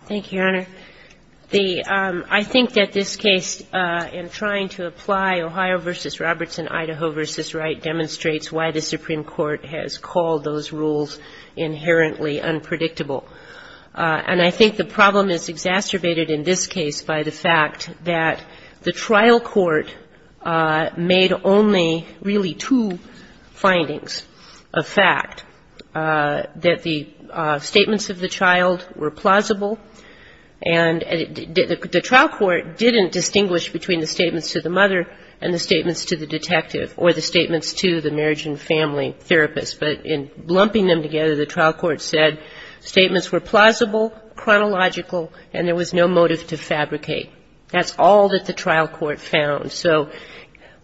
Thank you, Your Honor. The — I think that this case in trying to apply Ohio v. Robertson, Idaho v. Wright demonstrates why the Supreme Court has called those rules inherently unpredictable. And I think the problem is exacerbated in this case by the fact that the trial court made only really two findings of fact, that the statements of the child were plausible, and the trial court didn't distinguish between the statements to the mother and the statements to the detective or the statements to the marriage and family therapist. But in lumping them together, the trial court said statements were plausible, chronological, and there was no motive to fabricate. That's all that the trial court found. So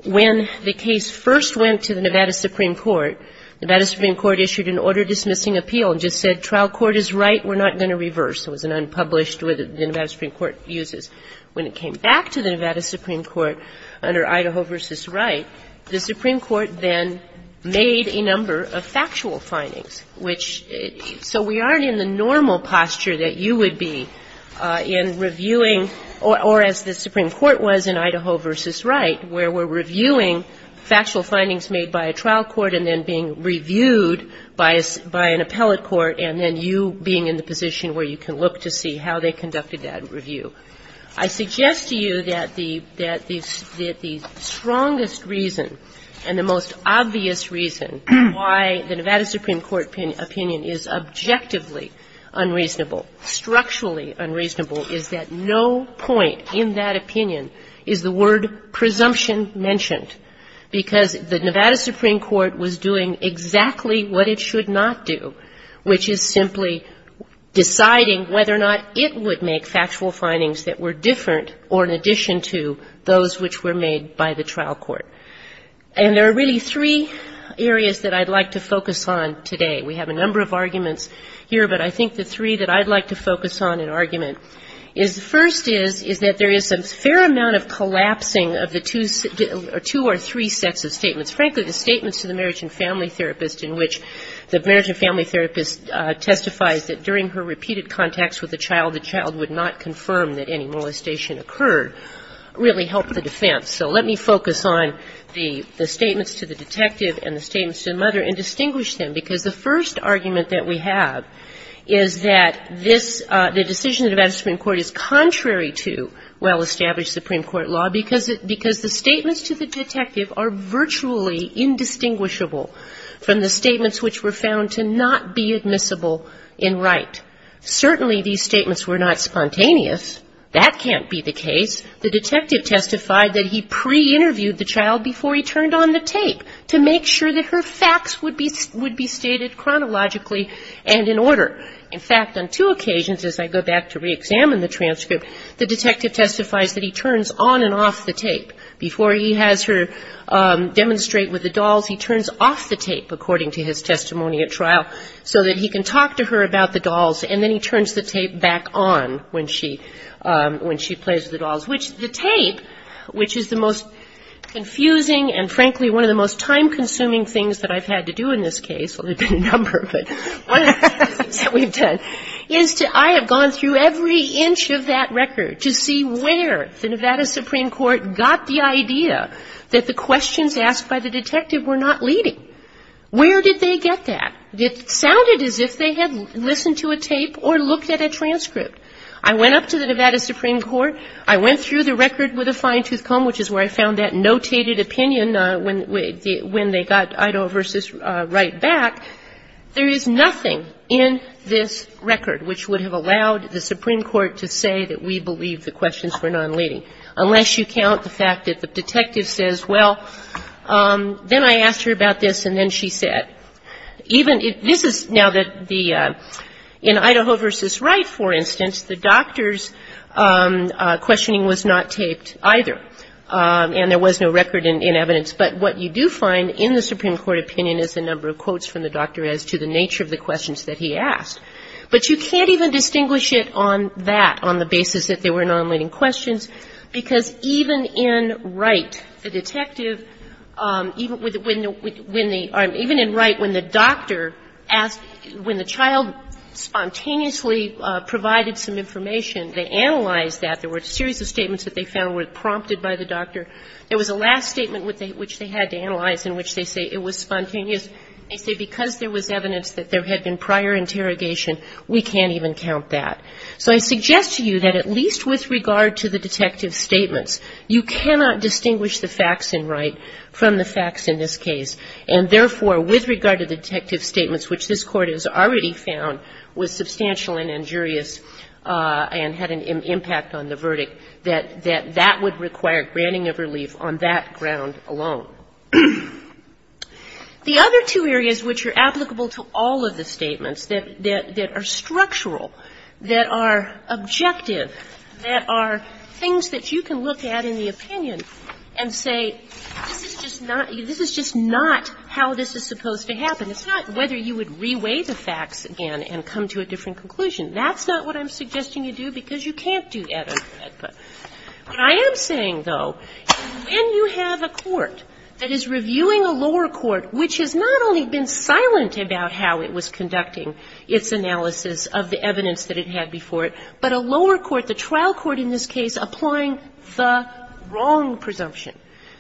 when the case first went to the Nevada Supreme Court, the Nevada Supreme Court issued an order-dismissing appeal and just said trial court is right, we're not going to reverse. It was an unpublished order the Nevada Supreme Court uses. When it came back to the Nevada Supreme Court under Idaho v. Wright, the Supreme Court then made a number of factual findings, which — so we aren't in the normal posture that you would be in reviewing or as the Supreme Court was in Idaho v. Wright, where we're reviewing factual findings made by a trial court and then being reviewed by an appellate court, and then you being in the position where you can look to see how they conducted that review. I suggest to you that the strongest reason and the most obvious reason why the Nevada Supreme Court opinion is objectively unreasonable, structurally unreasonable, is that no point in that opinion is the word presumption mentioned, because the Nevada Supreme Court was doing exactly what it should not do, which is simply deciding whether or not it would make factual findings that were different or in addition to those which were made by the trial court. And there are really three areas that I'd like to focus on today. We have a number of arguments here, but I think the three that I'd like to focus on in argument is the first is, is that there is a fair amount of collapsing of the two or three sets of statements. Frankly, the statements to the marriage and family therapist in which the marriage and family therapist testifies that during her repeated contacts with the child, the child would not confirm that any molestation occurred, really help the defense. So let me focus on the statements to the detective and the statements to the mother and distinguish them, because the first argument that we have is that this — the decision of the Nevada Supreme Court is contrary to well-established Supreme Court law, because the statements to the detective are virtually indistinguishable from the statements which were found to not be admissible in right. Certainly these statements were not spontaneous. That can't be the case. The detective testified that he pre-interviewed the child before he turned on the tape to make sure that her facts would be — would be stated chronologically and in order. In fact, on two occasions, as I go back to reexamine the transcript, the detective testifies that he turns on and off the tape. Before he has her demonstrate with the dolls, he turns off the tape, according to his testimony at trial, so that he can talk to her about the dolls, and then he turns the tape back on when she — when she plays with the dolls, which the tape, which is the most confusing and, frankly, one of the most time-consuming things that I've had to do in this case — well, there have been a number, but one that we've done — is to — I have gone through every inch of that record to see where the Nevada Supreme Court got the idea that the questions asked by the detective were not leading. Where did they get that? It sounded as if they had listened to a tape or looked at a transcript. I went up to the Nevada Supreme Court. I went through the record with a fine-tooth comb, which is where I found that notated opinion when they got Idaho v. Wright back. There is nothing in this record which would have allowed the Supreme Court to say that we believe the questions were not leading, unless you count the fact that the detective says, well, then I asked her about this, and then she said. Even if — this is now that the — in Idaho v. Wright, for instance, the doctor's questioning was not taped either, and there was no record in evidence. But what you do find in the Supreme Court opinion is the number of quotes from the doctor as to the nature of the questions that he asked. But you can't even distinguish it on that, on the basis that they were not leading questions, because even in Wright, the detective — even in Wright, when the doctor asked — when the child spontaneously provided some information, they analyzed that. There were a series of statements that they found were prompted by the doctor. There was a last statement which they had to analyze in which they say it was spontaneous. They say because there was evidence that there had been prior interrogation, we can't even count that. So I suggest to you that at least with regard to the detective's statements, you cannot distinguish the facts in Wright from the facts in this case. And therefore, with regard to the detective's statements, which this Court has already found was the verdict, that that would require granting of relief on that ground alone. The other two areas which are applicable to all of the statements that are structural, that are objective, that are things that you can look at in the opinion and say, this is just not — this is just not how this is supposed to happen. It's not whether you would reweigh the facts again and come to a different conclusion. That's not what I'm suggesting you do, because you can't do that. But I am saying, though, when you have a court that is reviewing a lower court which has not only been silent about how it was conducting its analysis of the evidence that it had before it, but a lower court, the trial court in this case, applying the wrong presumption.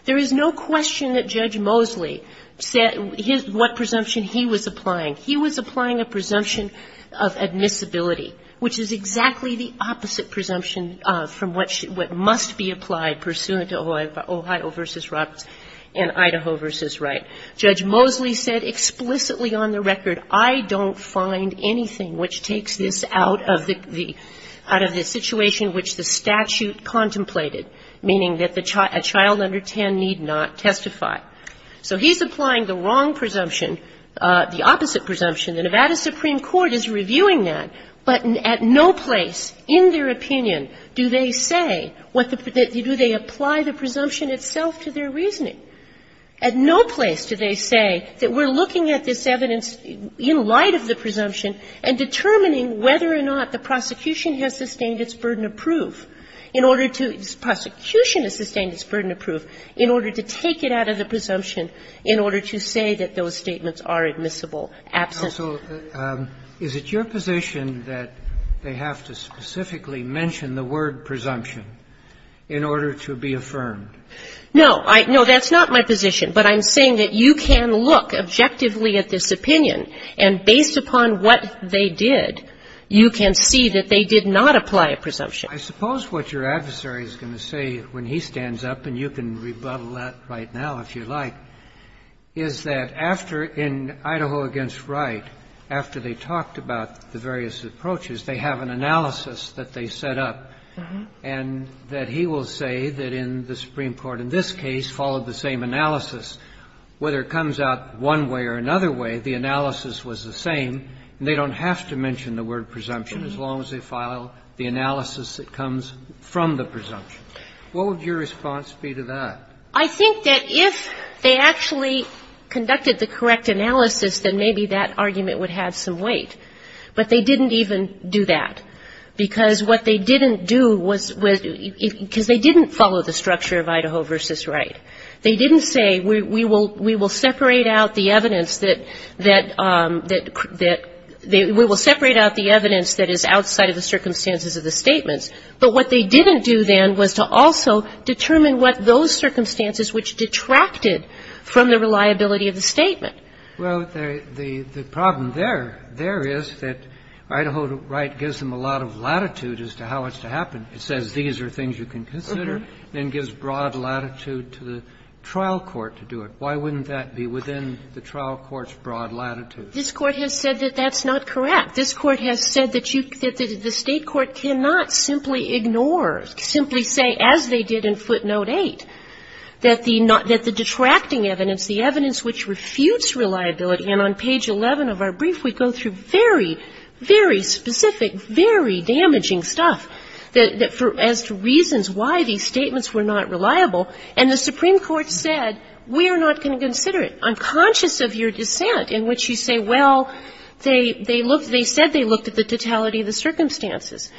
There is no question that Judge Mosley said his — what presumption he was applying. He was applying a presumption of admissibility, which is exactly the opposite presumption from what must be applied pursuant to Ohio v. Roberts and Idaho v. Wright. Judge Mosley said explicitly on the record, I don't find anything which takes this out of the — out of the situation which the statute contemplated, meaning that the — a child under 10 need not testify. So he's applying the wrong presumption, the opposite presumption. The Nevada Supreme Court is reviewing that, but at no place in their opinion do they say what the — do they apply the presumption itself to their reasoning. At no place do they say that we're looking at this evidence in light of the presumption and determining whether or not the prosecution has sustained its burden of proof in order to — the prosecution has sustained its burden of proof in order to take it out of the presumption in order to say that those statements are admissible, absent. So is it your position that they have to specifically mention the word presumption in order to be affirmed? No. No, that's not my position. But I'm saying that you can look objectively at this opinion, and based upon what they did, you can see that they did not apply a presumption. I suppose what your adversary is going to say when he stands up, and you can rebuttal that right now if you'd like, is that after — in Idaho v. Wright, after they talked about the various approaches, they have an analysis that they set up, and that he will say that in the Supreme Court in this case followed the same analysis. Whether it comes out one way or another way, the analysis was the same, and they don't have to mention the word presumption as long as they follow the analysis that comes from the presumption. What would your response be to that? I think that if they actually conducted the correct analysis, then maybe that argument would have some weight. But they didn't even do that, because what they didn't do was — because they didn't follow the structure of Idaho v. Wright. They didn't say, we will separate out the evidence that — that — that — we will separate out the evidence that is outside of the circumstances of the statements. But what they didn't do then was to also determine what those circumstances which detracted from the reliability of the statement. Well, the — the problem there — there is that Idaho v. Wright gives them a lot of latitude as to how it's to happen. It says these are things you can consider, then gives broad latitude to the trial court to do it. Why wouldn't that be within the trial court's broad latitude? This Court has said that that's not correct. This Court has said that you — that the State court cannot simply ignore, simply say, as they did in footnote 8, that the — that the detracting evidence, the evidence which refutes reliability — and on page 11 of our brief, we go through very, very specific, very damaging stuff that — as to reasons why these statements were not reliable. And the Supreme Court said, we are not going to consider it. I'm conscious of your dissent in which you say, well, they — they looked — they said they looked at the totality of the circumstances.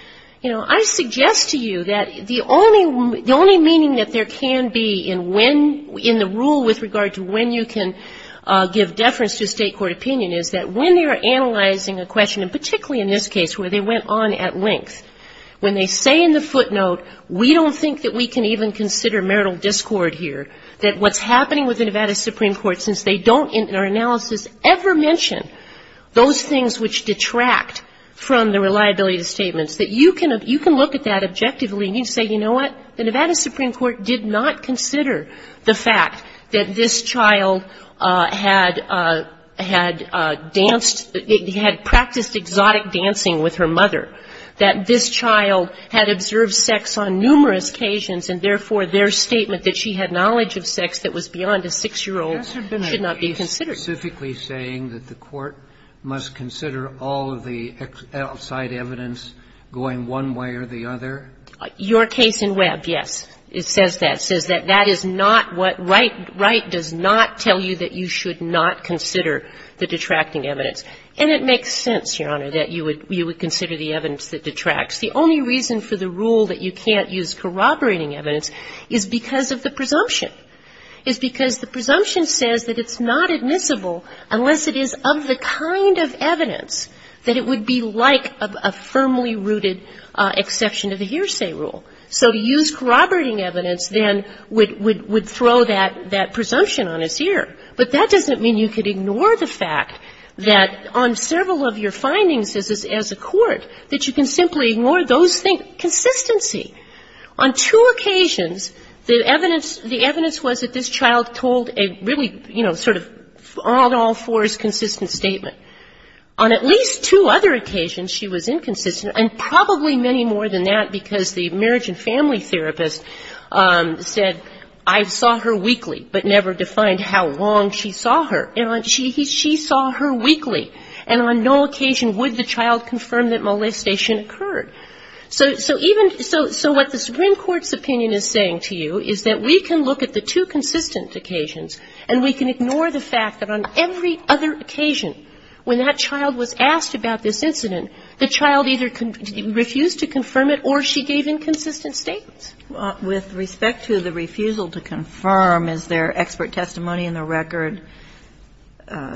You know, I suggest to you that the only — the only meaning that there can be in when — in the rule with regard to when you can give deference to a State court opinion is that when you're analyzing a question, and particularly in this case where they went on at length, when they say in the footnote, we don't think that we can even consider marital discord here, that what's happening with the Nevada Supreme Court, since they don't, in our analysis, ever mention those things which detract from the reliability of the statements, that you can — you can look at that objectively and you can say, you know what? The Nevada Supreme Court did not consider the fact that this child had — had danced — had practiced exotic dancing with her mother, that this child had observed sex on numerous occasions, and therefore, their statement that she had knowledge of sex that was beyond a 6-year-old's should not be considered. Kennedy, specifically saying that the Court must consider all of the outside evidence going one way or the other? Your case in Webb, yes, it says that. It says that that is not what Wright — Wright does not tell you that you should not consider the detracting evidence. And it makes sense, Your Honor, that you would — you would consider the evidence that detracts. The only reason for the rule that you can't use corroborating evidence is because of the presumption. It's because the presumption says that it's not admissible unless it is of the kind of evidence that it would be like a firmly rooted exception to the hearsay rule. So to use corroborating evidence, then, would — would throw that — that presumption on its ear. But that doesn't mean you could ignore the fact that on several of your findings as a — as a court, that you can simply ignore those things — consistency. On two occasions, the evidence — the evidence was that this child told a really, you know, sort of all-in-all-fours consistent statement. On at least two other occasions, she was inconsistent, and probably many more than that because the marriage and family therapist said, I saw her weekly, but never defined how long she saw her. And she — he — she saw her weekly. And on no occasion would the child confirm that molestation occurred. So — so even — so — so what the Supreme Court's opinion is saying to you is that we can look at the two consistent occasions, and we can ignore the fact that on every other occasion, when that child was asked about this incident, the child either refused to confirm it or she gave inconsistent statements. Well, with respect to the refusal to confirm, is there expert testimony in the record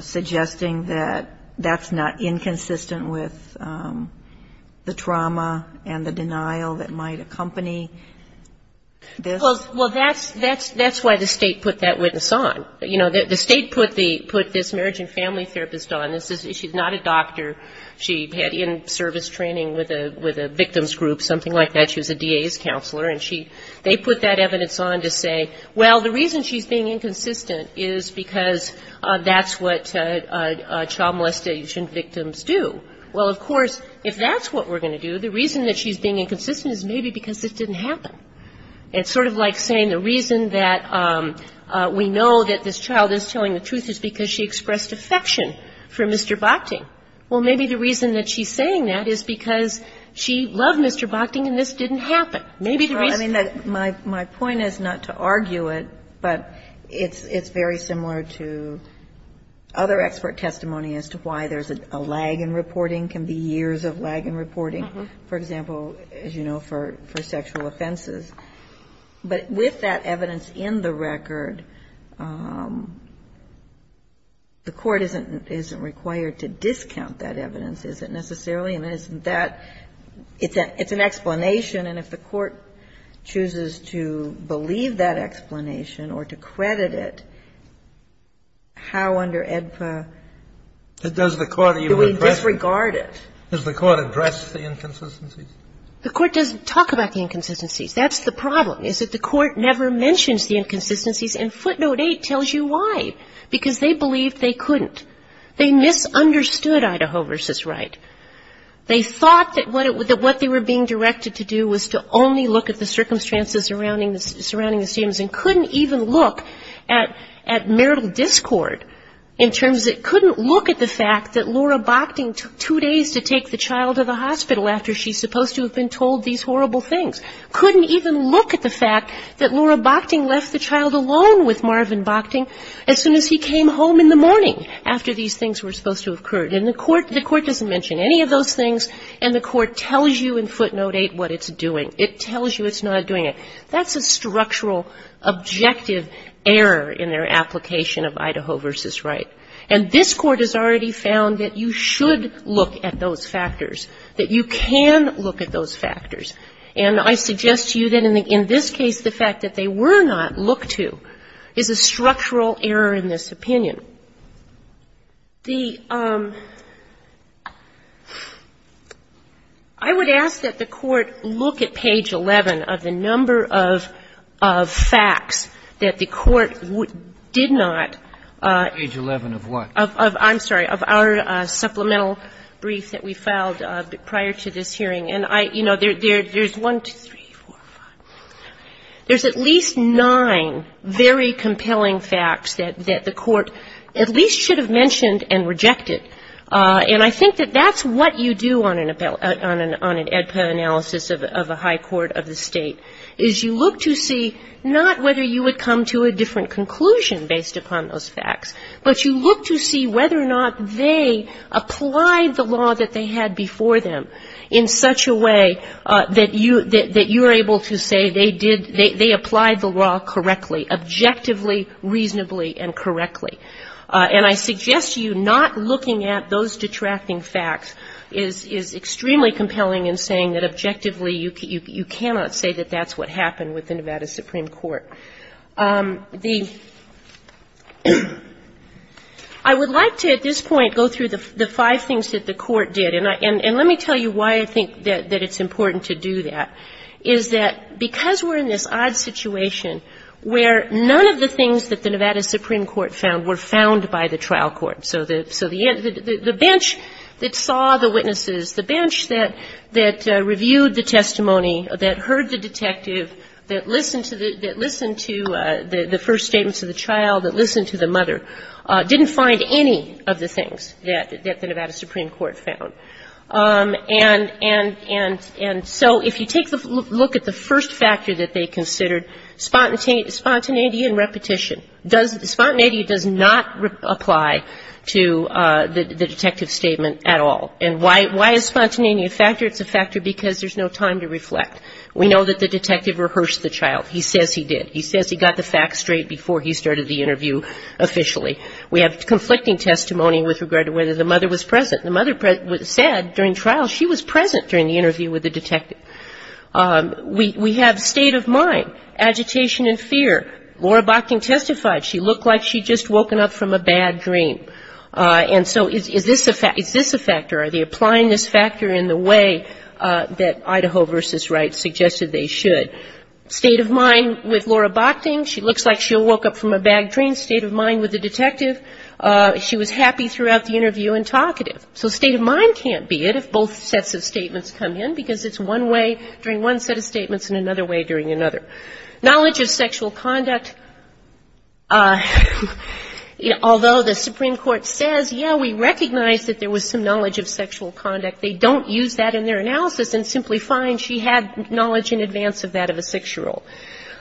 suggesting that that's not inconsistent with the trauma and the denial that might accompany this? Well, that's — that's — that's why the State put that witness on. You know, the State put the — put this marriage and family therapist on. This is — she's not a doctor. She had in-service training with a — with a victims group, something like that. She was a DA's counselor. And she — they put that evidence on to say, well, the reason she's being inconsistent is because that's what child molestation victims do. Well, of course, if that's what we're going to do, the reason that she's being inconsistent is maybe because this didn't happen. It's sort of like saying the reason that we know that this child is telling the truth is because she expressed affection for Mr. Bochting. Well, maybe the reason that she's saying that is because she loved Mr. Bochting and this didn't happen. Maybe the reason — But it's — it's very similar to other expert testimony as to why there's a lag in reporting, can be years of lag in reporting, for example, as you know, for — for sexual offenses. But with that evidence in the record, the court isn't — isn't required to discount that evidence, is it necessarily? And isn't that — it's a — it's an explanation. And if the court chooses to believe that explanation or to credit it, how under AEDPA do we disregard it? Does the court address the inconsistencies? The court doesn't talk about the inconsistencies. That's the problem, is that the court never mentions the inconsistencies. And footnote 8 tells you why, because they believed they couldn't. They misunderstood Idaho v. Wright. They thought that what it — that what they were being directed to do was to only look at the circumstances surrounding the — surrounding the students and couldn't even look at — at marital discord in terms — couldn't look at the fact that Laura Bochting took two days to take the child to the hospital after she's supposed to have been told these horrible things. Couldn't even look at the fact that Laura Bochting left the child alone with Marvin Bochting as soon as he came home in the morning after these things were supposed to have occurred. And the court — the court doesn't mention any of those things, and the court tells you in footnote 8 what it's doing. It tells you it's not doing it. That's a structural objective error in their application of Idaho v. Wright. And this court has already found that you should look at those factors, that you can look at those factors. And I suggest to you that in this case, the fact that they were not looked to is a structural error in this opinion. The — I would ask that the court look at page 11 of the number of facts that the court did not — Roberts. Page 11 of what? Of — I'm sorry, of our supplemental brief that we filed prior to this hearing. And I — you know, there's one, two, three, four, five, six, seven — there's at least nine very At least should have mentioned and rejected. And I think that that's what you do on an — on an EDPA analysis of a high court of the state, is you look to see not whether you would come to a different conclusion based upon those facts, but you look to see whether or not they applied the law that they had before them in such a way that you — that you're able to say they did — they applied the law correctly, objectively, reasonably, and correctly. And I suggest to you not looking at those detracting facts is — is extremely compelling in saying that objectively you cannot say that that's what happened with the Nevada Supreme Court. The — I would like to, at this point, go through the five things that the court did. And I — and let me tell you why I think that it's important to do that, is that because we're in this odd situation where none of the things that the Nevada Supreme Court found were found by the trial court. So the — so the — the bench that saw the witnesses, the bench that — that reviewed the testimony, that heard the detective, that listened to the — that listened to the first statements of the child, that listened to the mother, didn't find any of the things that — that the Nevada Supreme Court found. And — and — and so if you take the — look at the first factor that they considered, spontaneity and repetition, does — spontaneity does not apply to the detective statement at all. And why — why is spontaneity a factor? It's a factor because there's no time to reflect. We know that the detective rehearsed the child. He says he did. He says he got the facts straight before he started the interview officially. We have conflicting testimony with regard to whether the mother was present. The mother said during trial she was present during the interview with the detective. We — we have state of mind, agitation and fear. Laura Bochting testified she looked like she'd just woken up from a bad dream. And so is — is this a — is this a factor? Are they applying this factor in the way that Idaho v. Wright suggested they should? State of mind with Laura Bochting, she looks like she woke up from a bad dream. State of mind with the detective, she was happy throughout the interview and talkative. So state of mind can't be it if both sets of statements come in because it's one way during one set of statements and another way during another. Knowledge of sexual conduct, although the Supreme Court says, yeah, we recognize that there was some knowledge of sexual conduct, they don't use that in their analysis and simply find she had knowledge in advance of that of a six-year-old.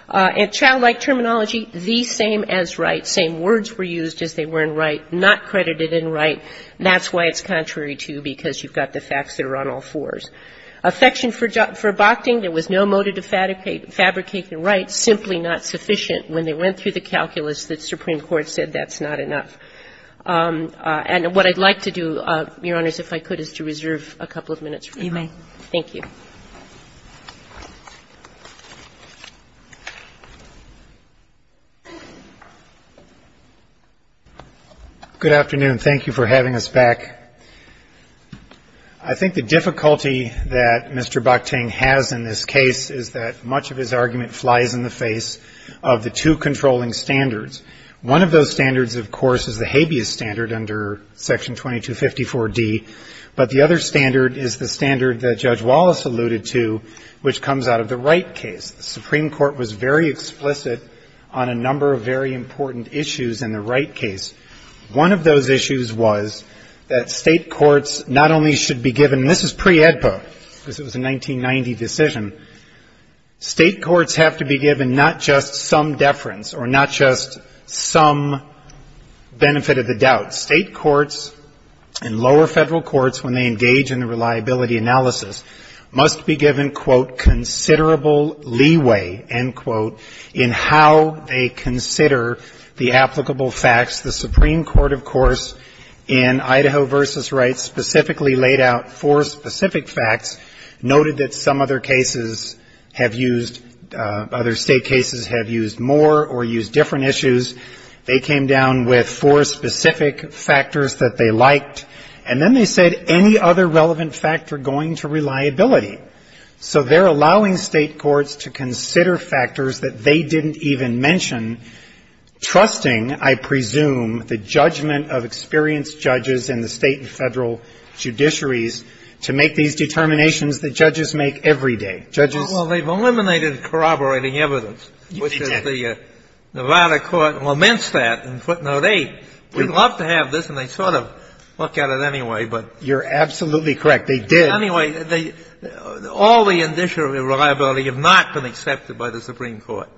And childlike terminology, the same as Wright. Same words were used as they were in Wright, not credited in Wright. That's why it's contrary to because you've got the facts that are on all fours. Affection for — for Bochting, there was no motive to fabricate the right, simply not sufficient when they went through the calculus that Supreme Court said that's not enough. And what I'd like to do, Your Honors, if I could, is to reserve a couple of minutes. Thank you. Good afternoon. Thank you for having us back. I think the difficulty that Mr. Bochting has in this case is that much of his argument flies in the face of the two controlling standards. One of those standards, of course, is the habeas standard under Section 2254D. But the other standard is the standard that Judge Wallace alluded to, which comes out of the Wright case. The Supreme Court was very explicit on a number of very important issues in the Wright case. One of those issues was that state courts not only should be given — and this is pre-AEDPA, because it was a 1990 decision — state courts have to be given not just some deference or not just some benefit of the doubt. State courts and lower federal courts, when they engage in the reliability analysis, must be given, quote, considerable leeway, end quote, in how they consider the applicable facts. The Supreme Court, of course, in Idaho v. Wright specifically laid out four specific facts, noted that some other cases have used — other state cases have used more or used different issues. They came down with four specific factors that they liked, and then they said any other relevant fact are going to reliability. So they're allowing state courts to consider factors that they didn't even mention, trusting, I presume, the judgment of experienced judges in the state and federal judiciaries to make these determinations that judges make every day. Judges — And they lamented that in footnote 8. We'd love to have this, and they sort of look at it anyway, but — You're absolutely correct. They did. Anyway, they — all the indicia of reliability have not been accepted by the Supreme Court.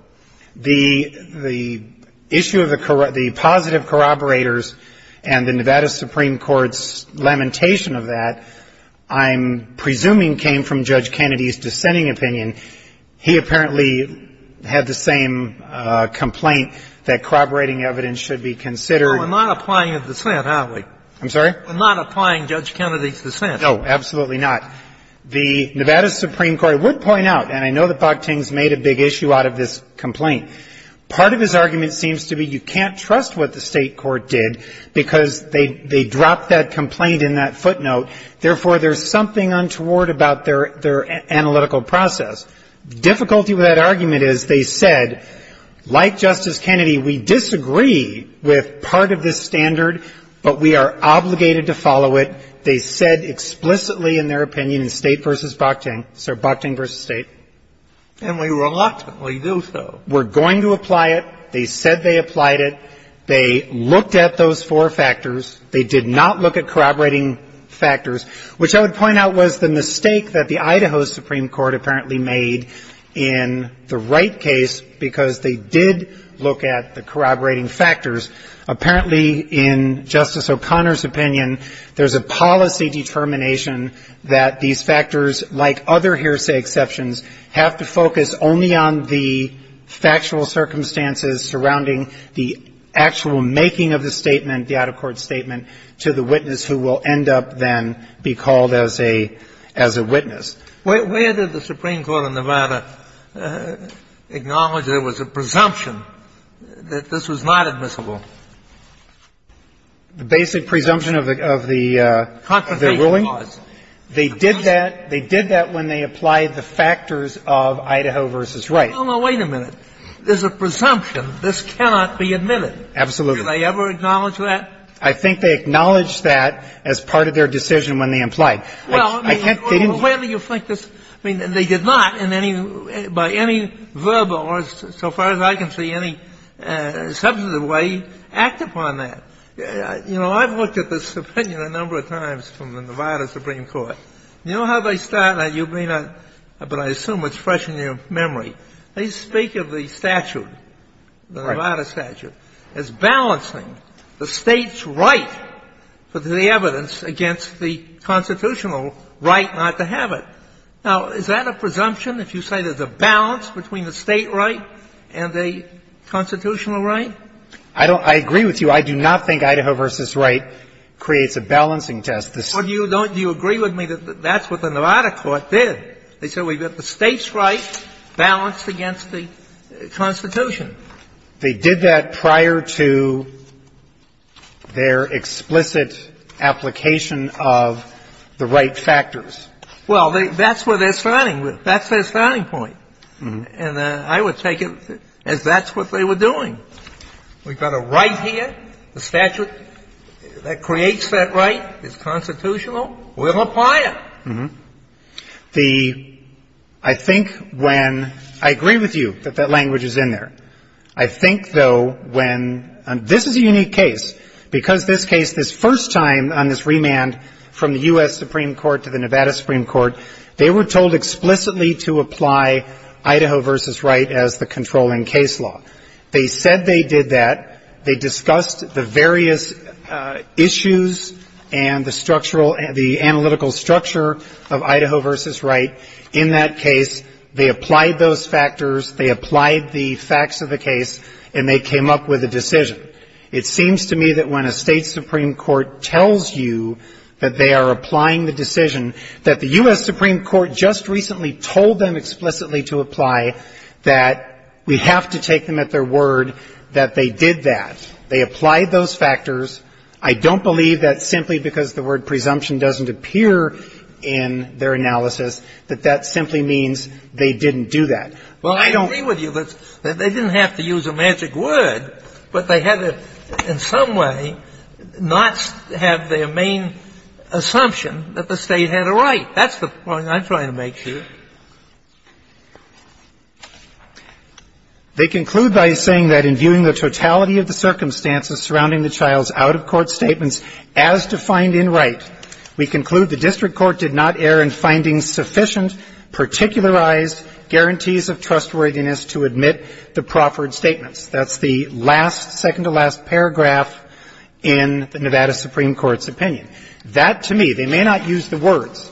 The issue of the positive corroborators and the Nevada Supreme Court's lamentation of that, I'm presuming, came from Judge Kennedy's dissenting opinion. He apparently had the same complaint that corroborating evidence should be considered No, we're not applying a dissent, are we? I'm sorry? We're not applying Judge Kennedy's dissent. No, absolutely not. The Nevada Supreme Court would point out, and I know that Bogtings made a big issue out of this complaint. Part of his argument seems to be you can't trust what the state court did because they dropped that complaint in that footnote. Therefore, there's something untoward about their analytical process. The difficulty with that argument is they said, like Justice Kennedy, we disagree with part of this standard, but we are obligated to follow it. They said explicitly in their opinion, in State v. Bogtings — sorry, Bogtings v. State. And we reluctantly do so. We're going to apply it. They said they applied it. They looked at those four factors. They did not look at corroborating factors, which I would point out was the mistake that the Idaho Supreme Court apparently made in the Wright case because they did look at the corroborating factors. Apparently, in Justice O'Connor's opinion, there's a policy determination that these factors, like other hearsay exceptions, have to focus only on the factual circumstances surrounding the actual making of the statement, the Idaho court statement, to the witness who will end up, then, be called as a — as a witness. Kennedy. Where did the Supreme Court of Nevada acknowledge there was a presumption that this was not admissible? Feigin. The basic presumption of the — of the ruling? Feigin. They did that — they did that when they applied the factors of Idaho v. Wright. Kennedy. Oh, no, wait a minute. There's a presumption this cannot be admitted. Feigin. Absolutely. Kennedy. Did they ever acknowledge that? I think they acknowledged that as part of their decision when they implied. I can't — they didn't — Kennedy. Well, where do you think this — I mean, they did not in any — by any verbal or, so far as I can see, any substantive way, act upon that. You know, I've looked at this opinion a number of times from the Nevada Supreme Court. You know how they start, and you may not — but I assume it's fresh in your memory. They speak of the statute, the Nevada statute, as balancing the State's decision and the State's right for the evidence against the constitutional right not to have it. Now, is that a presumption, if you say there's a balance between the State right and the constitutional right? I don't — I agree with you. I do not think Idaho v. Wright creates a balancing test. The State's — Well, do you — do you agree with me that that's what the Nevada court did? They said we've got the State's right balanced against the Constitution. They did that prior to their explicit application of the right factors. Well, that's where they're starting. That's their starting point. And I would take it as that's what they were doing. We've got a right here, the statute that creates that right, it's constitutional. We'll apply it. The — I think when — I agree with you that that language is in there. I think, though, when — this is a unique case, because this case, this first time on this remand from the U.S. Supreme Court to the Nevada Supreme Court, they were told explicitly to apply Idaho v. Wright as the controlling case law. They said they did that. They discussed the various issues and the structural — the analytical structure of Idaho v. Wright. In that case, they applied those factors, they applied the facts of the case, and they came up with a decision. It seems to me that when a State Supreme Court tells you that they are applying the decision that the U.S. Supreme Court just recently told them explicitly to apply, that we have to take them at their word that they did that, they applied those factors, I don't believe that simply because the word presumption doesn't appear in their analysis, that that simply means they didn't do that. Well, I don't — Sotomayor Well, I agree with you that they didn't have to use a magic word, but they had to in some way not have their main assumption that the State had a right. That's the point I'm trying to make here. They conclude by saying that in viewing the totality of the circumstances surrounding the child's out-of-court statements as defined in Wright, we conclude the district court did not err in finding sufficient, particularized guarantees of trustworthiness to admit the proffered statements. That's the last, second-to-last paragraph in the Nevada Supreme Court's opinion. statements as defined in Wright.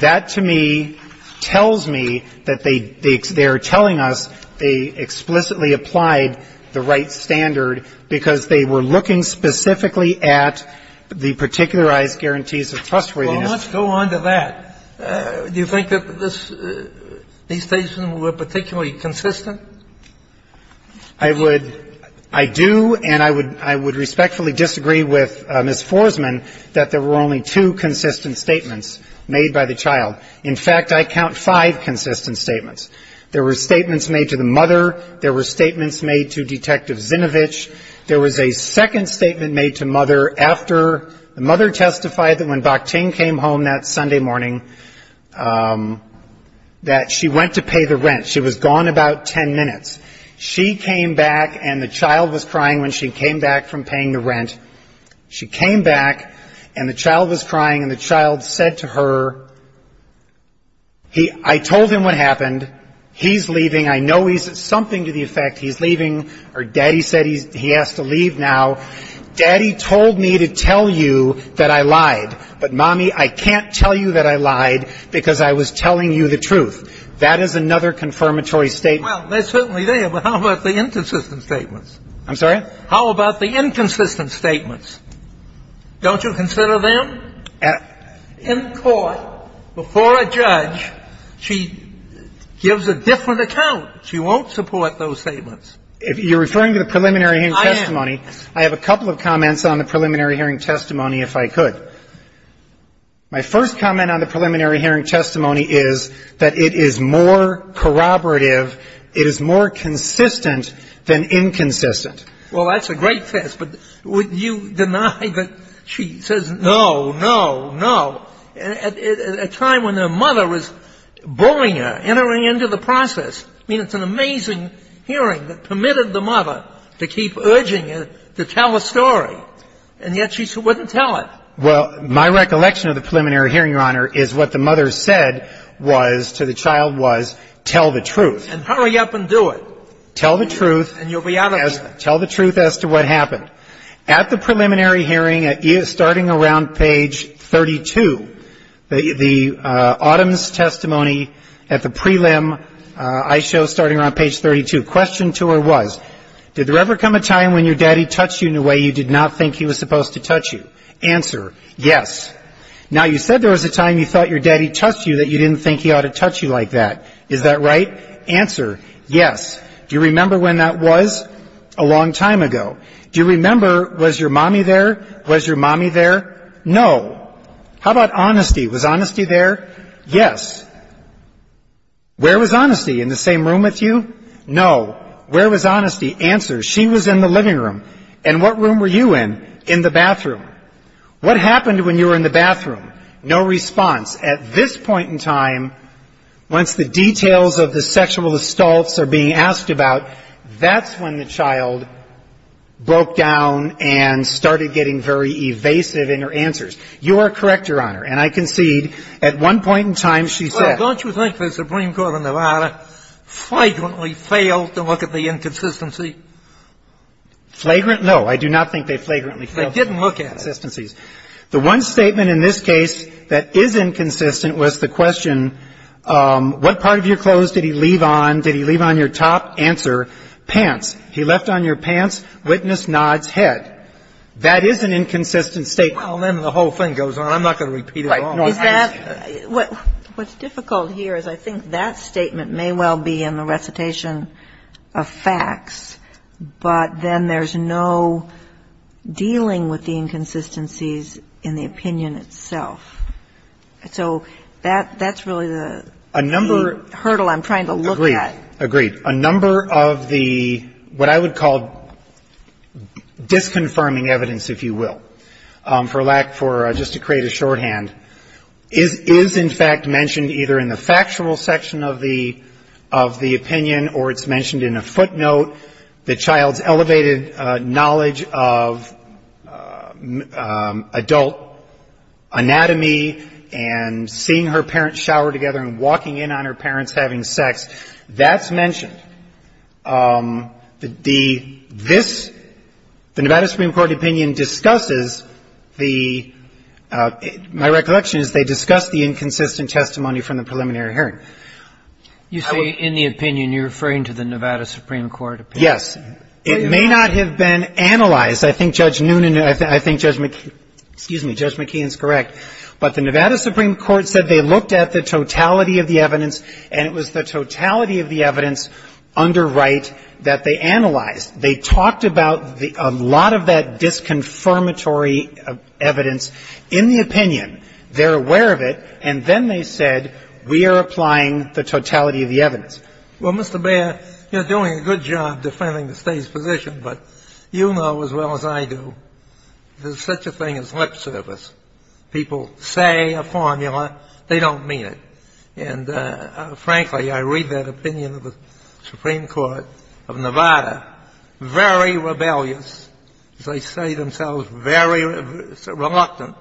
That, to me, tells me that they — they are telling us they explicitly applied the Wright standard because they were looking specifically at the particularized guarantees of trustworthiness. Kennedy And let's go on to that. Do you think that this — these statements were particularly consistent? I would — I do, and I would respectfully disagree with Ms. Forsman that there were only two consistent statements made by the child. In fact, I count five consistent statements. There were statements made to the mother. There were statements made to Detective Zinovich. There was a second statement made to mother after the mother testified that when Docting came home that Sunday morning, that she went to pay the rent. She was gone about 10 minutes. She came back, and the child was crying when she came back from paying the rent. She came back, and the child was crying, and the child said to her, I told him what happened, he's leaving, I know he's — something to the effect he's leaving, or daddy said he has to leave now, daddy told me to tell you that I lied. But mommy, I can't tell you that I lied because I was telling you the truth. That is another confirmatory statement. Well, they're certainly there, but how about the inconsistent statements? I'm sorry? How about the inconsistent statements? Don't you consider them? In court, before a judge, she gives a different account. She won't support those statements. You're referring to the preliminary hearing testimony. I am. I have a couple of comments on the preliminary hearing testimony, if I could. My first comment on the preliminary hearing testimony is that it is more corroborative, it is more consistent than inconsistent. Well, that's a great test, but would you deny that she says no, no, no, at a time when her mother was bullying her, entering into the process. I mean, it's an amazing hearing that permitted the mother to keep urging her to tell a story, and yet she wouldn't tell it. Well, my recollection of the preliminary hearing, Your Honor, is what the mother said was, to the child, was, tell the truth. And hurry up and do it. Tell the truth. And you'll be out of here. Tell the truth as to what happened. At the preliminary hearing, starting around page 32, the Autumns testimony at the prelim I show, starting around page 32, question to her was, did there ever come a time when your daddy touched you in a way you did not think he was supposed to touch you? Answer, yes. Now you said there was a time you thought your daddy touched you that you didn't think he ought to touch you like that. Is that right? Answer, yes. Do you remember when that was? A long time ago. Do you remember, was your mommy there? Was your mommy there? No. How about honesty? Was honesty there? Yes. Where was honesty? In the same room with you? No. Where was honesty? Answer. She was in the living room. And what room were you in? In the bathroom. What happened when you were in the bathroom? No response. At this point in time, once the details of the sexual assaults are being asked about, that's when the child broke down and started getting very evasive in her answers. You are correct, Your Honor. And I concede, at one point in time, she said Well, don't you think the Supreme Court and Nevada flagrantly failed to look at the inconsistency? Flagrant? No. I do not think they flagrantly failed to look at the inconsistencies. They didn't look at it. The one statement in this case that is inconsistent was the question, what part of your clothes did he leave on? Did he leave on your top? Answer. Pants. He left on your pants? Witness nods head. That is an inconsistent statement. Well, then the whole thing goes on. I'm not going to repeat it all. Right. No, I understand. What's difficult here is I think that statement may well be in the recitation of facts, but then there's no dealing with the inconsistencies in the opinion itself. So that's really the hurdle I'm trying to look at. Agreed. Agreed. A number of the what I would call disconfirming evidence, if you will, for lack for just to create a shorthand, is in fact mentioned either in the factual section of the opinion or it's mentioned in a footnote. The child's elevated knowledge of adult anatomy and seeing her parents shower together and walking in on her parents having sex, that's mentioned. The this, the Nevada Supreme Court opinion discusses the, my recollection is they discuss the inconsistent testimony from the preliminary hearing. You say in the opinion. You're referring to the Nevada Supreme Court opinion. Yes. It may not have been analyzed. I think Judge Noonan, I think Judge McKeon, excuse me, Judge McKeon is correct. But the Nevada Supreme Court said they looked at the totality of the evidence and it was the totality of the evidence under Wright that they analyzed. They talked about a lot of that disconfirmatory evidence in the opinion. They're aware of it. And then they said, we are applying the totality of the evidence. Well, Mr. Beyer, you're doing a good job defending the State's position, but you know as well as I do, there's such a thing as lip service. People say a formula. They don't mean it. And frankly, I read that opinion of the Supreme Court of Nevada, very rebellious. They say themselves very reluctant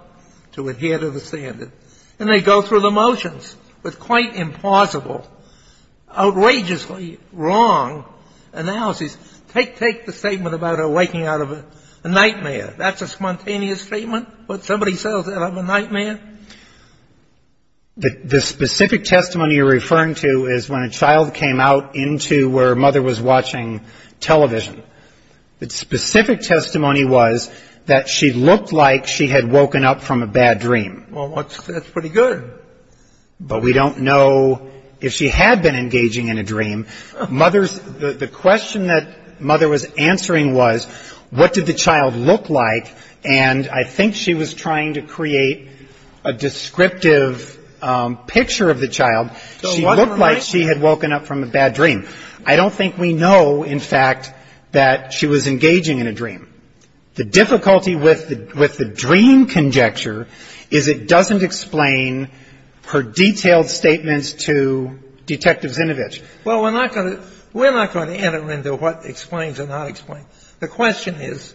to adhere to the standard. And they go through the motions with quite implausible, outrageously wrong analyses. Take the statement about her waking out of a nightmare. That's a spontaneous statement? What, somebody settles out of a nightmare? The specific testimony you're referring to is when a child came out into where her mother was watching television. The specific testimony was that she looked like she had woken up from a bad dream. Well, that's pretty good. But we don't know if she had been engaging in a dream. The question that mother was answering was, what did the child look like? And I think she was trying to create a descriptive picture of the child. She looked like she had woken up from a bad dream. I don't think we know, in fact, that she was engaging in a dream. The difficulty with the dream conjecture is it doesn't explain her detailed statements to Detective Zinovich. Well, we're not going to enter into what explains or not explains. The question is,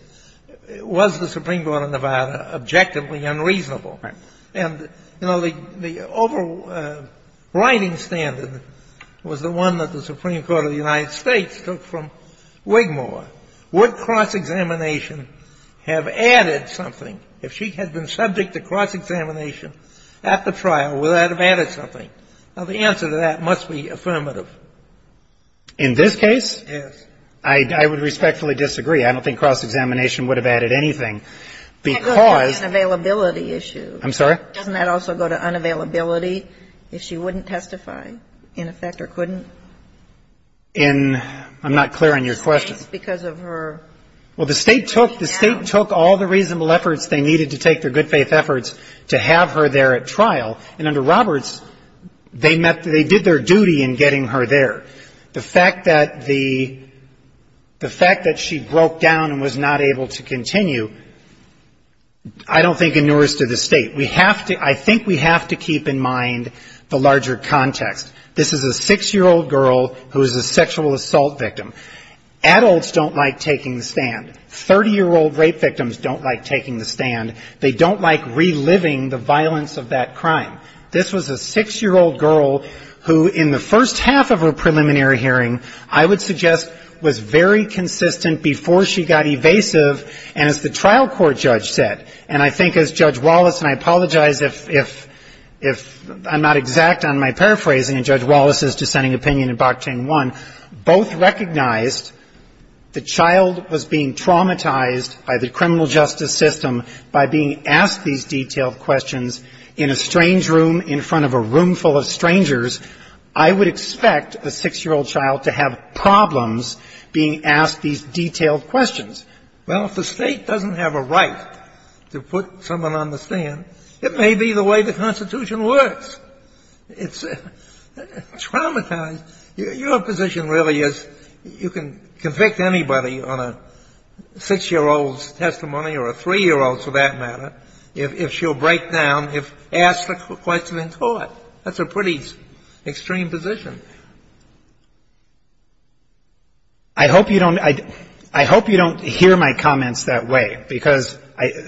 was the Supreme Court of Nevada objectively unreasonable? And the overriding standard was the one that the Supreme Court of the United States took from Wigmore. Would cross-examination have added something? If she had been subject to cross-examination at the trial, would that have added something? Now, the answer to that must be affirmative. In this case? Yes. I would respectfully disagree. I don't think cross-examination would have added anything, because the question I go to the unavailability issue. I'm sorry? Doesn't that also go to unavailability, if she wouldn't testify, in effect, or couldn't? In – I'm not clear on your question. Well, the State took – the State took all the reasonable efforts they needed to take, their good faith efforts, to have her there at trial. And under Roberts, they met – they did their duty in getting her there. The fact that the – the fact that she broke down and was not able to continue, I don't think inures to the State. We have to – I think we have to keep in mind the larger context. This is a 6-year-old girl who is a sexual assault victim. Adults don't like taking the stand. 30-year-old rape victims don't like taking the stand. They don't like reliving the violence of that crime. This was a 6-year-old girl who, in the first half of her preliminary hearing, I would suggest was very consistent before she got evasive, and as the trial court judge said, and I think as Judge Wallace – and I apologize if – if I'm not exact on my the child was being traumatized by the criminal justice system by being asked these detailed questions in a strange room in front of a room full of strangers, I would expect a 6-year-old child to have problems being asked these detailed questions. Well, if the State doesn't have a right to put someone on the stand, it may be the way the Constitution works. It's traumatizing. Your position really is you can convict anybody on a 6-year-old's testimony or a 3-year-old's for that matter if she'll break down if asked a question in court. That's a pretty extreme position. I hope you don't – I hope you don't hear my comments that way, because I –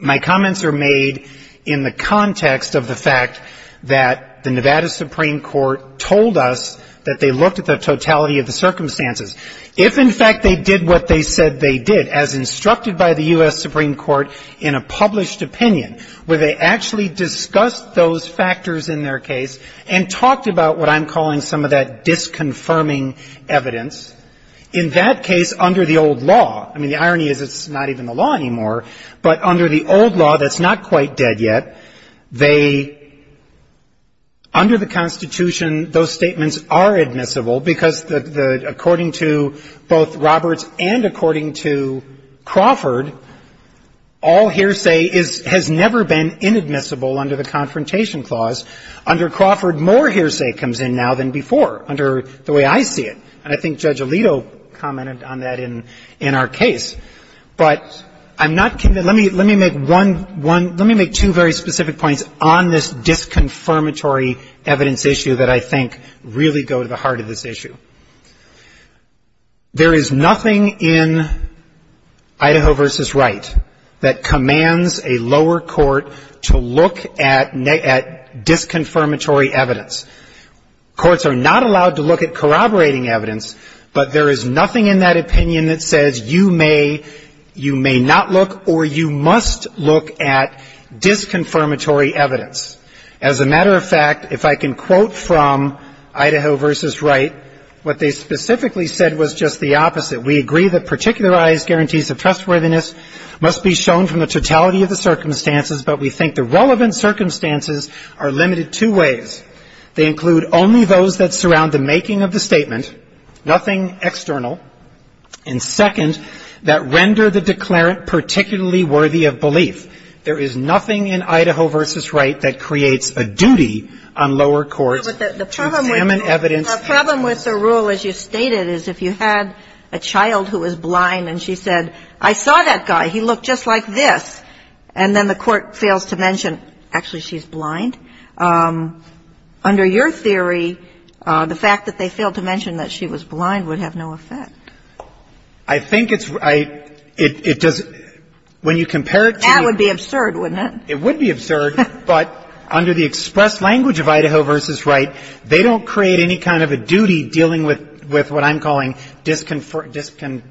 my fact that the Nevada Supreme Court told us that they looked at the totality of the circumstances. If, in fact, they did what they said they did, as instructed by the U.S. Supreme Court in a published opinion, where they actually discussed those factors in their case and talked about what I'm calling some of that disconfirming evidence, in that case, under the old law – I mean, the irony is it's not even the law anymore, but under the old law that's not quite dead yet, they – under the Constitution, those statements are admissible, because the – according to both Roberts and according to Crawford, all hearsay is – has never been inadmissible under the Confrontation Clause. Under Crawford, more hearsay comes in now than before, under the way I see it. And I think Judge Alito commented on that in our case. But I'm not – let me make one – let me make two very specific points on this disconfirmatory evidence issue that I think really go to the heart of this issue. There is nothing in Idaho v. Wright that commands a lower court to look at disconfirmatory evidence. Courts are not allowed to look at corroborating evidence, but there is nothing in that opinion that says you may – you may not look or you must look at disconfirmatory evidence. As a matter of fact, if I can quote from Idaho v. Wright, what they specifically said was just the opposite. We agree that particularized guarantees of trustworthiness must be shown from the totality of the circumstances, but we think the relevant circumstances are limited two ways. They include only those that surround the making of the statement, nothing external, and, second, that render the declarant particularly worthy of belief. There is nothing in Idaho v. Wright that creates a duty on lower courts to examine evidence. The problem with the rule, as you stated, is if you had a child who was blind and she said, I saw that guy, he looked just like this, and then the court fails to mention, actually, she's blind, under your theory, the fact that they failed to mention that she was blind would have no effect. I think it's – it does – when you compare it to the – That would be absurd, wouldn't it? It would be absurd, but under the express language of Idaho v. Wright, they don't create any kind of a duty dealing with what I'm calling disconfirming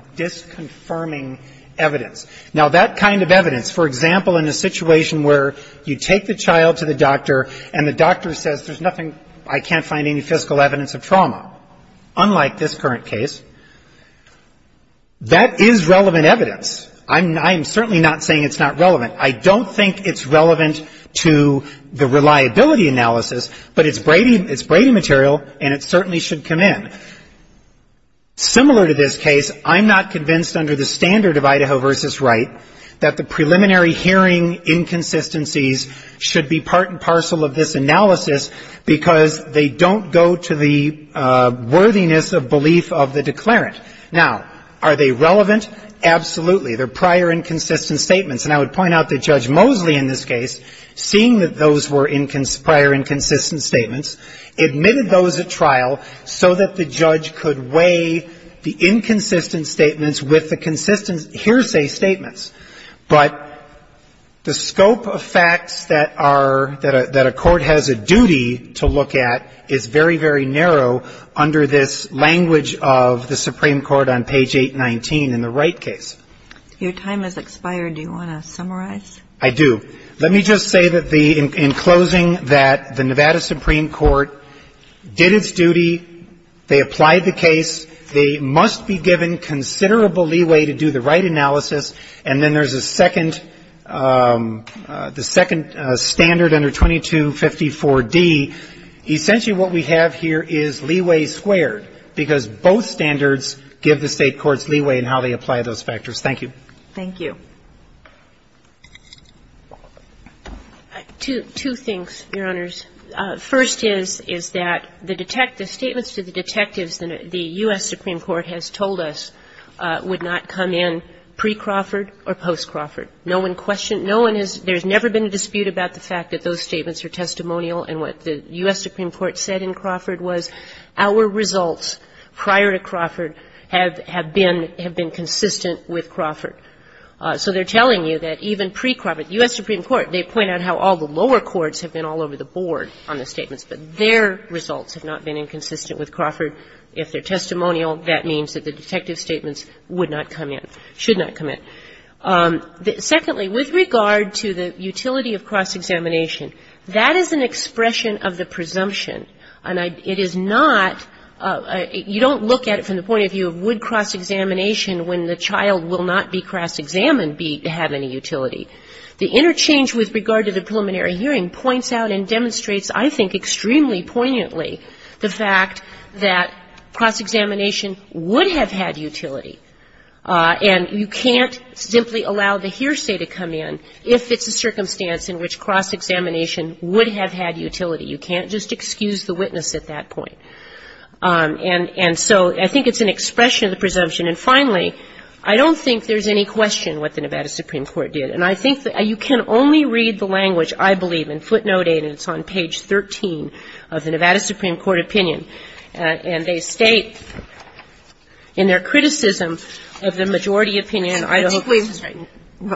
evidence. Now, that kind of evidence, for example, in a situation where you take the child to the doctor and the doctor says, there's nothing, I can't find any physical evidence of trauma, unlike this current case, that is relevant evidence. I'm certainly not saying it's not relevant. I don't think it's relevant to the reliability analysis, but it's Brady material and it certainly should come in. Similar to this case, I'm not convinced under the standard of Idaho v. Wright that the preliminary hearing inconsistencies should be part and parcel of this analysis because they don't go to the worthiness of belief of the declarant. Now, are they relevant? Absolutely. They're prior and consistent statements, and I would point out that Judge Mosley in this case, seeing that those were prior and consistent statements, admitted those at trial so that the judge could weigh the inconsistent statements with the consistent hearsay statements. But the scope of facts that a court has a duty to look at is very, very narrow under this language of the Supreme Court on page 819 in the Wright case. Your time has expired. Do you want to summarize? I do. Let me just say in closing that the Nevada Supreme Court did its duty. They applied the case. They must be given considerable leeway to do the Wright analysis. And then there's a second, the second standard under 2254d. Essentially what we have here is leeway squared because both standards give the State courts leeway in how they apply those factors. Thank you. Thank you. Two things, Your Honors. First is, is that the detectives, statements to the detectives that the U.S. Supreme Court has told us would not come in pre-Crawford or post-Crawford. No one questioned, no one has, there's never been a dispute about the fact that those statements are testimonial and what the U.S. Supreme Court said in Crawford was our results prior to Crawford have been consistent with Crawford. So they're telling you that even pre-Crawford, the U.S. Supreme Court, they point out how all the lower courts have been all over the board on the statements, but their results have not been inconsistent with Crawford. If they're testimonial, that means that the detective statements would not come in, should not come in. Secondly, with regard to the utility of cross-examination, that is an expression of the presumption. And it is not, you don't look at it from the point of view of would cross-examination when the child will not be cross-examined have any utility. The interchange with regard to the preliminary hearing points out and demonstrates, I think, extremely poignantly the fact that cross-examination would have had utility. And you can't simply allow the hearsay to come in if it's a circumstance in which cross-examination would have had utility. You can't just excuse the witness at that point. And so I think it's an expression of the presumption. And finally, I don't think there's any question what the Nevada Supreme Court did. And I think that you can only read the language, I believe, in footnote 8, and it's on page 13 of the Nevada Supreme Court opinion, and they state in their criticism of the majority opinion in Idaho. Kagan.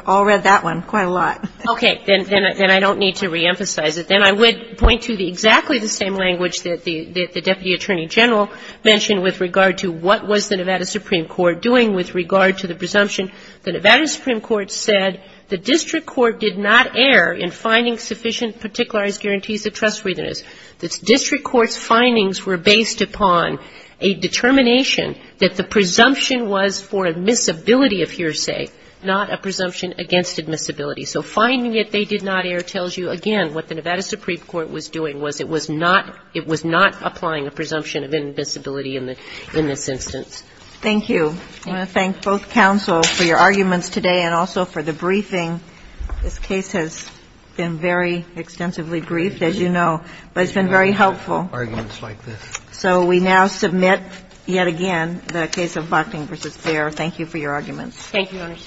I'll read that one quite a lot. Okay. Then I don't need to reemphasize it. Then I would point to exactly the same language that the Deputy Attorney General mentioned with regard to what was the Nevada Supreme Court doing with regard to the presumption. The Nevada Supreme Court said the district court did not err in finding sufficient particularized guarantees of trustworthiness. The district court's findings were based upon a determination that the presumption was for admissibility of hearsay, not a presumption against admissibility. So finding that they did not err tells you, again, what the Nevada Supreme Court was doing, was it was not – it was not applying a presumption of admissibility in this instance. Thank you. I want to thank both counsel for your arguments today and also for the briefing. This case has been very extensively briefed, as you know, but it's been very helpful. Arguments like this. So we now submit yet again the case of Bockling v. Fair. Thank you for your arguments. Thank you, Your Honor. All rise. Thank you.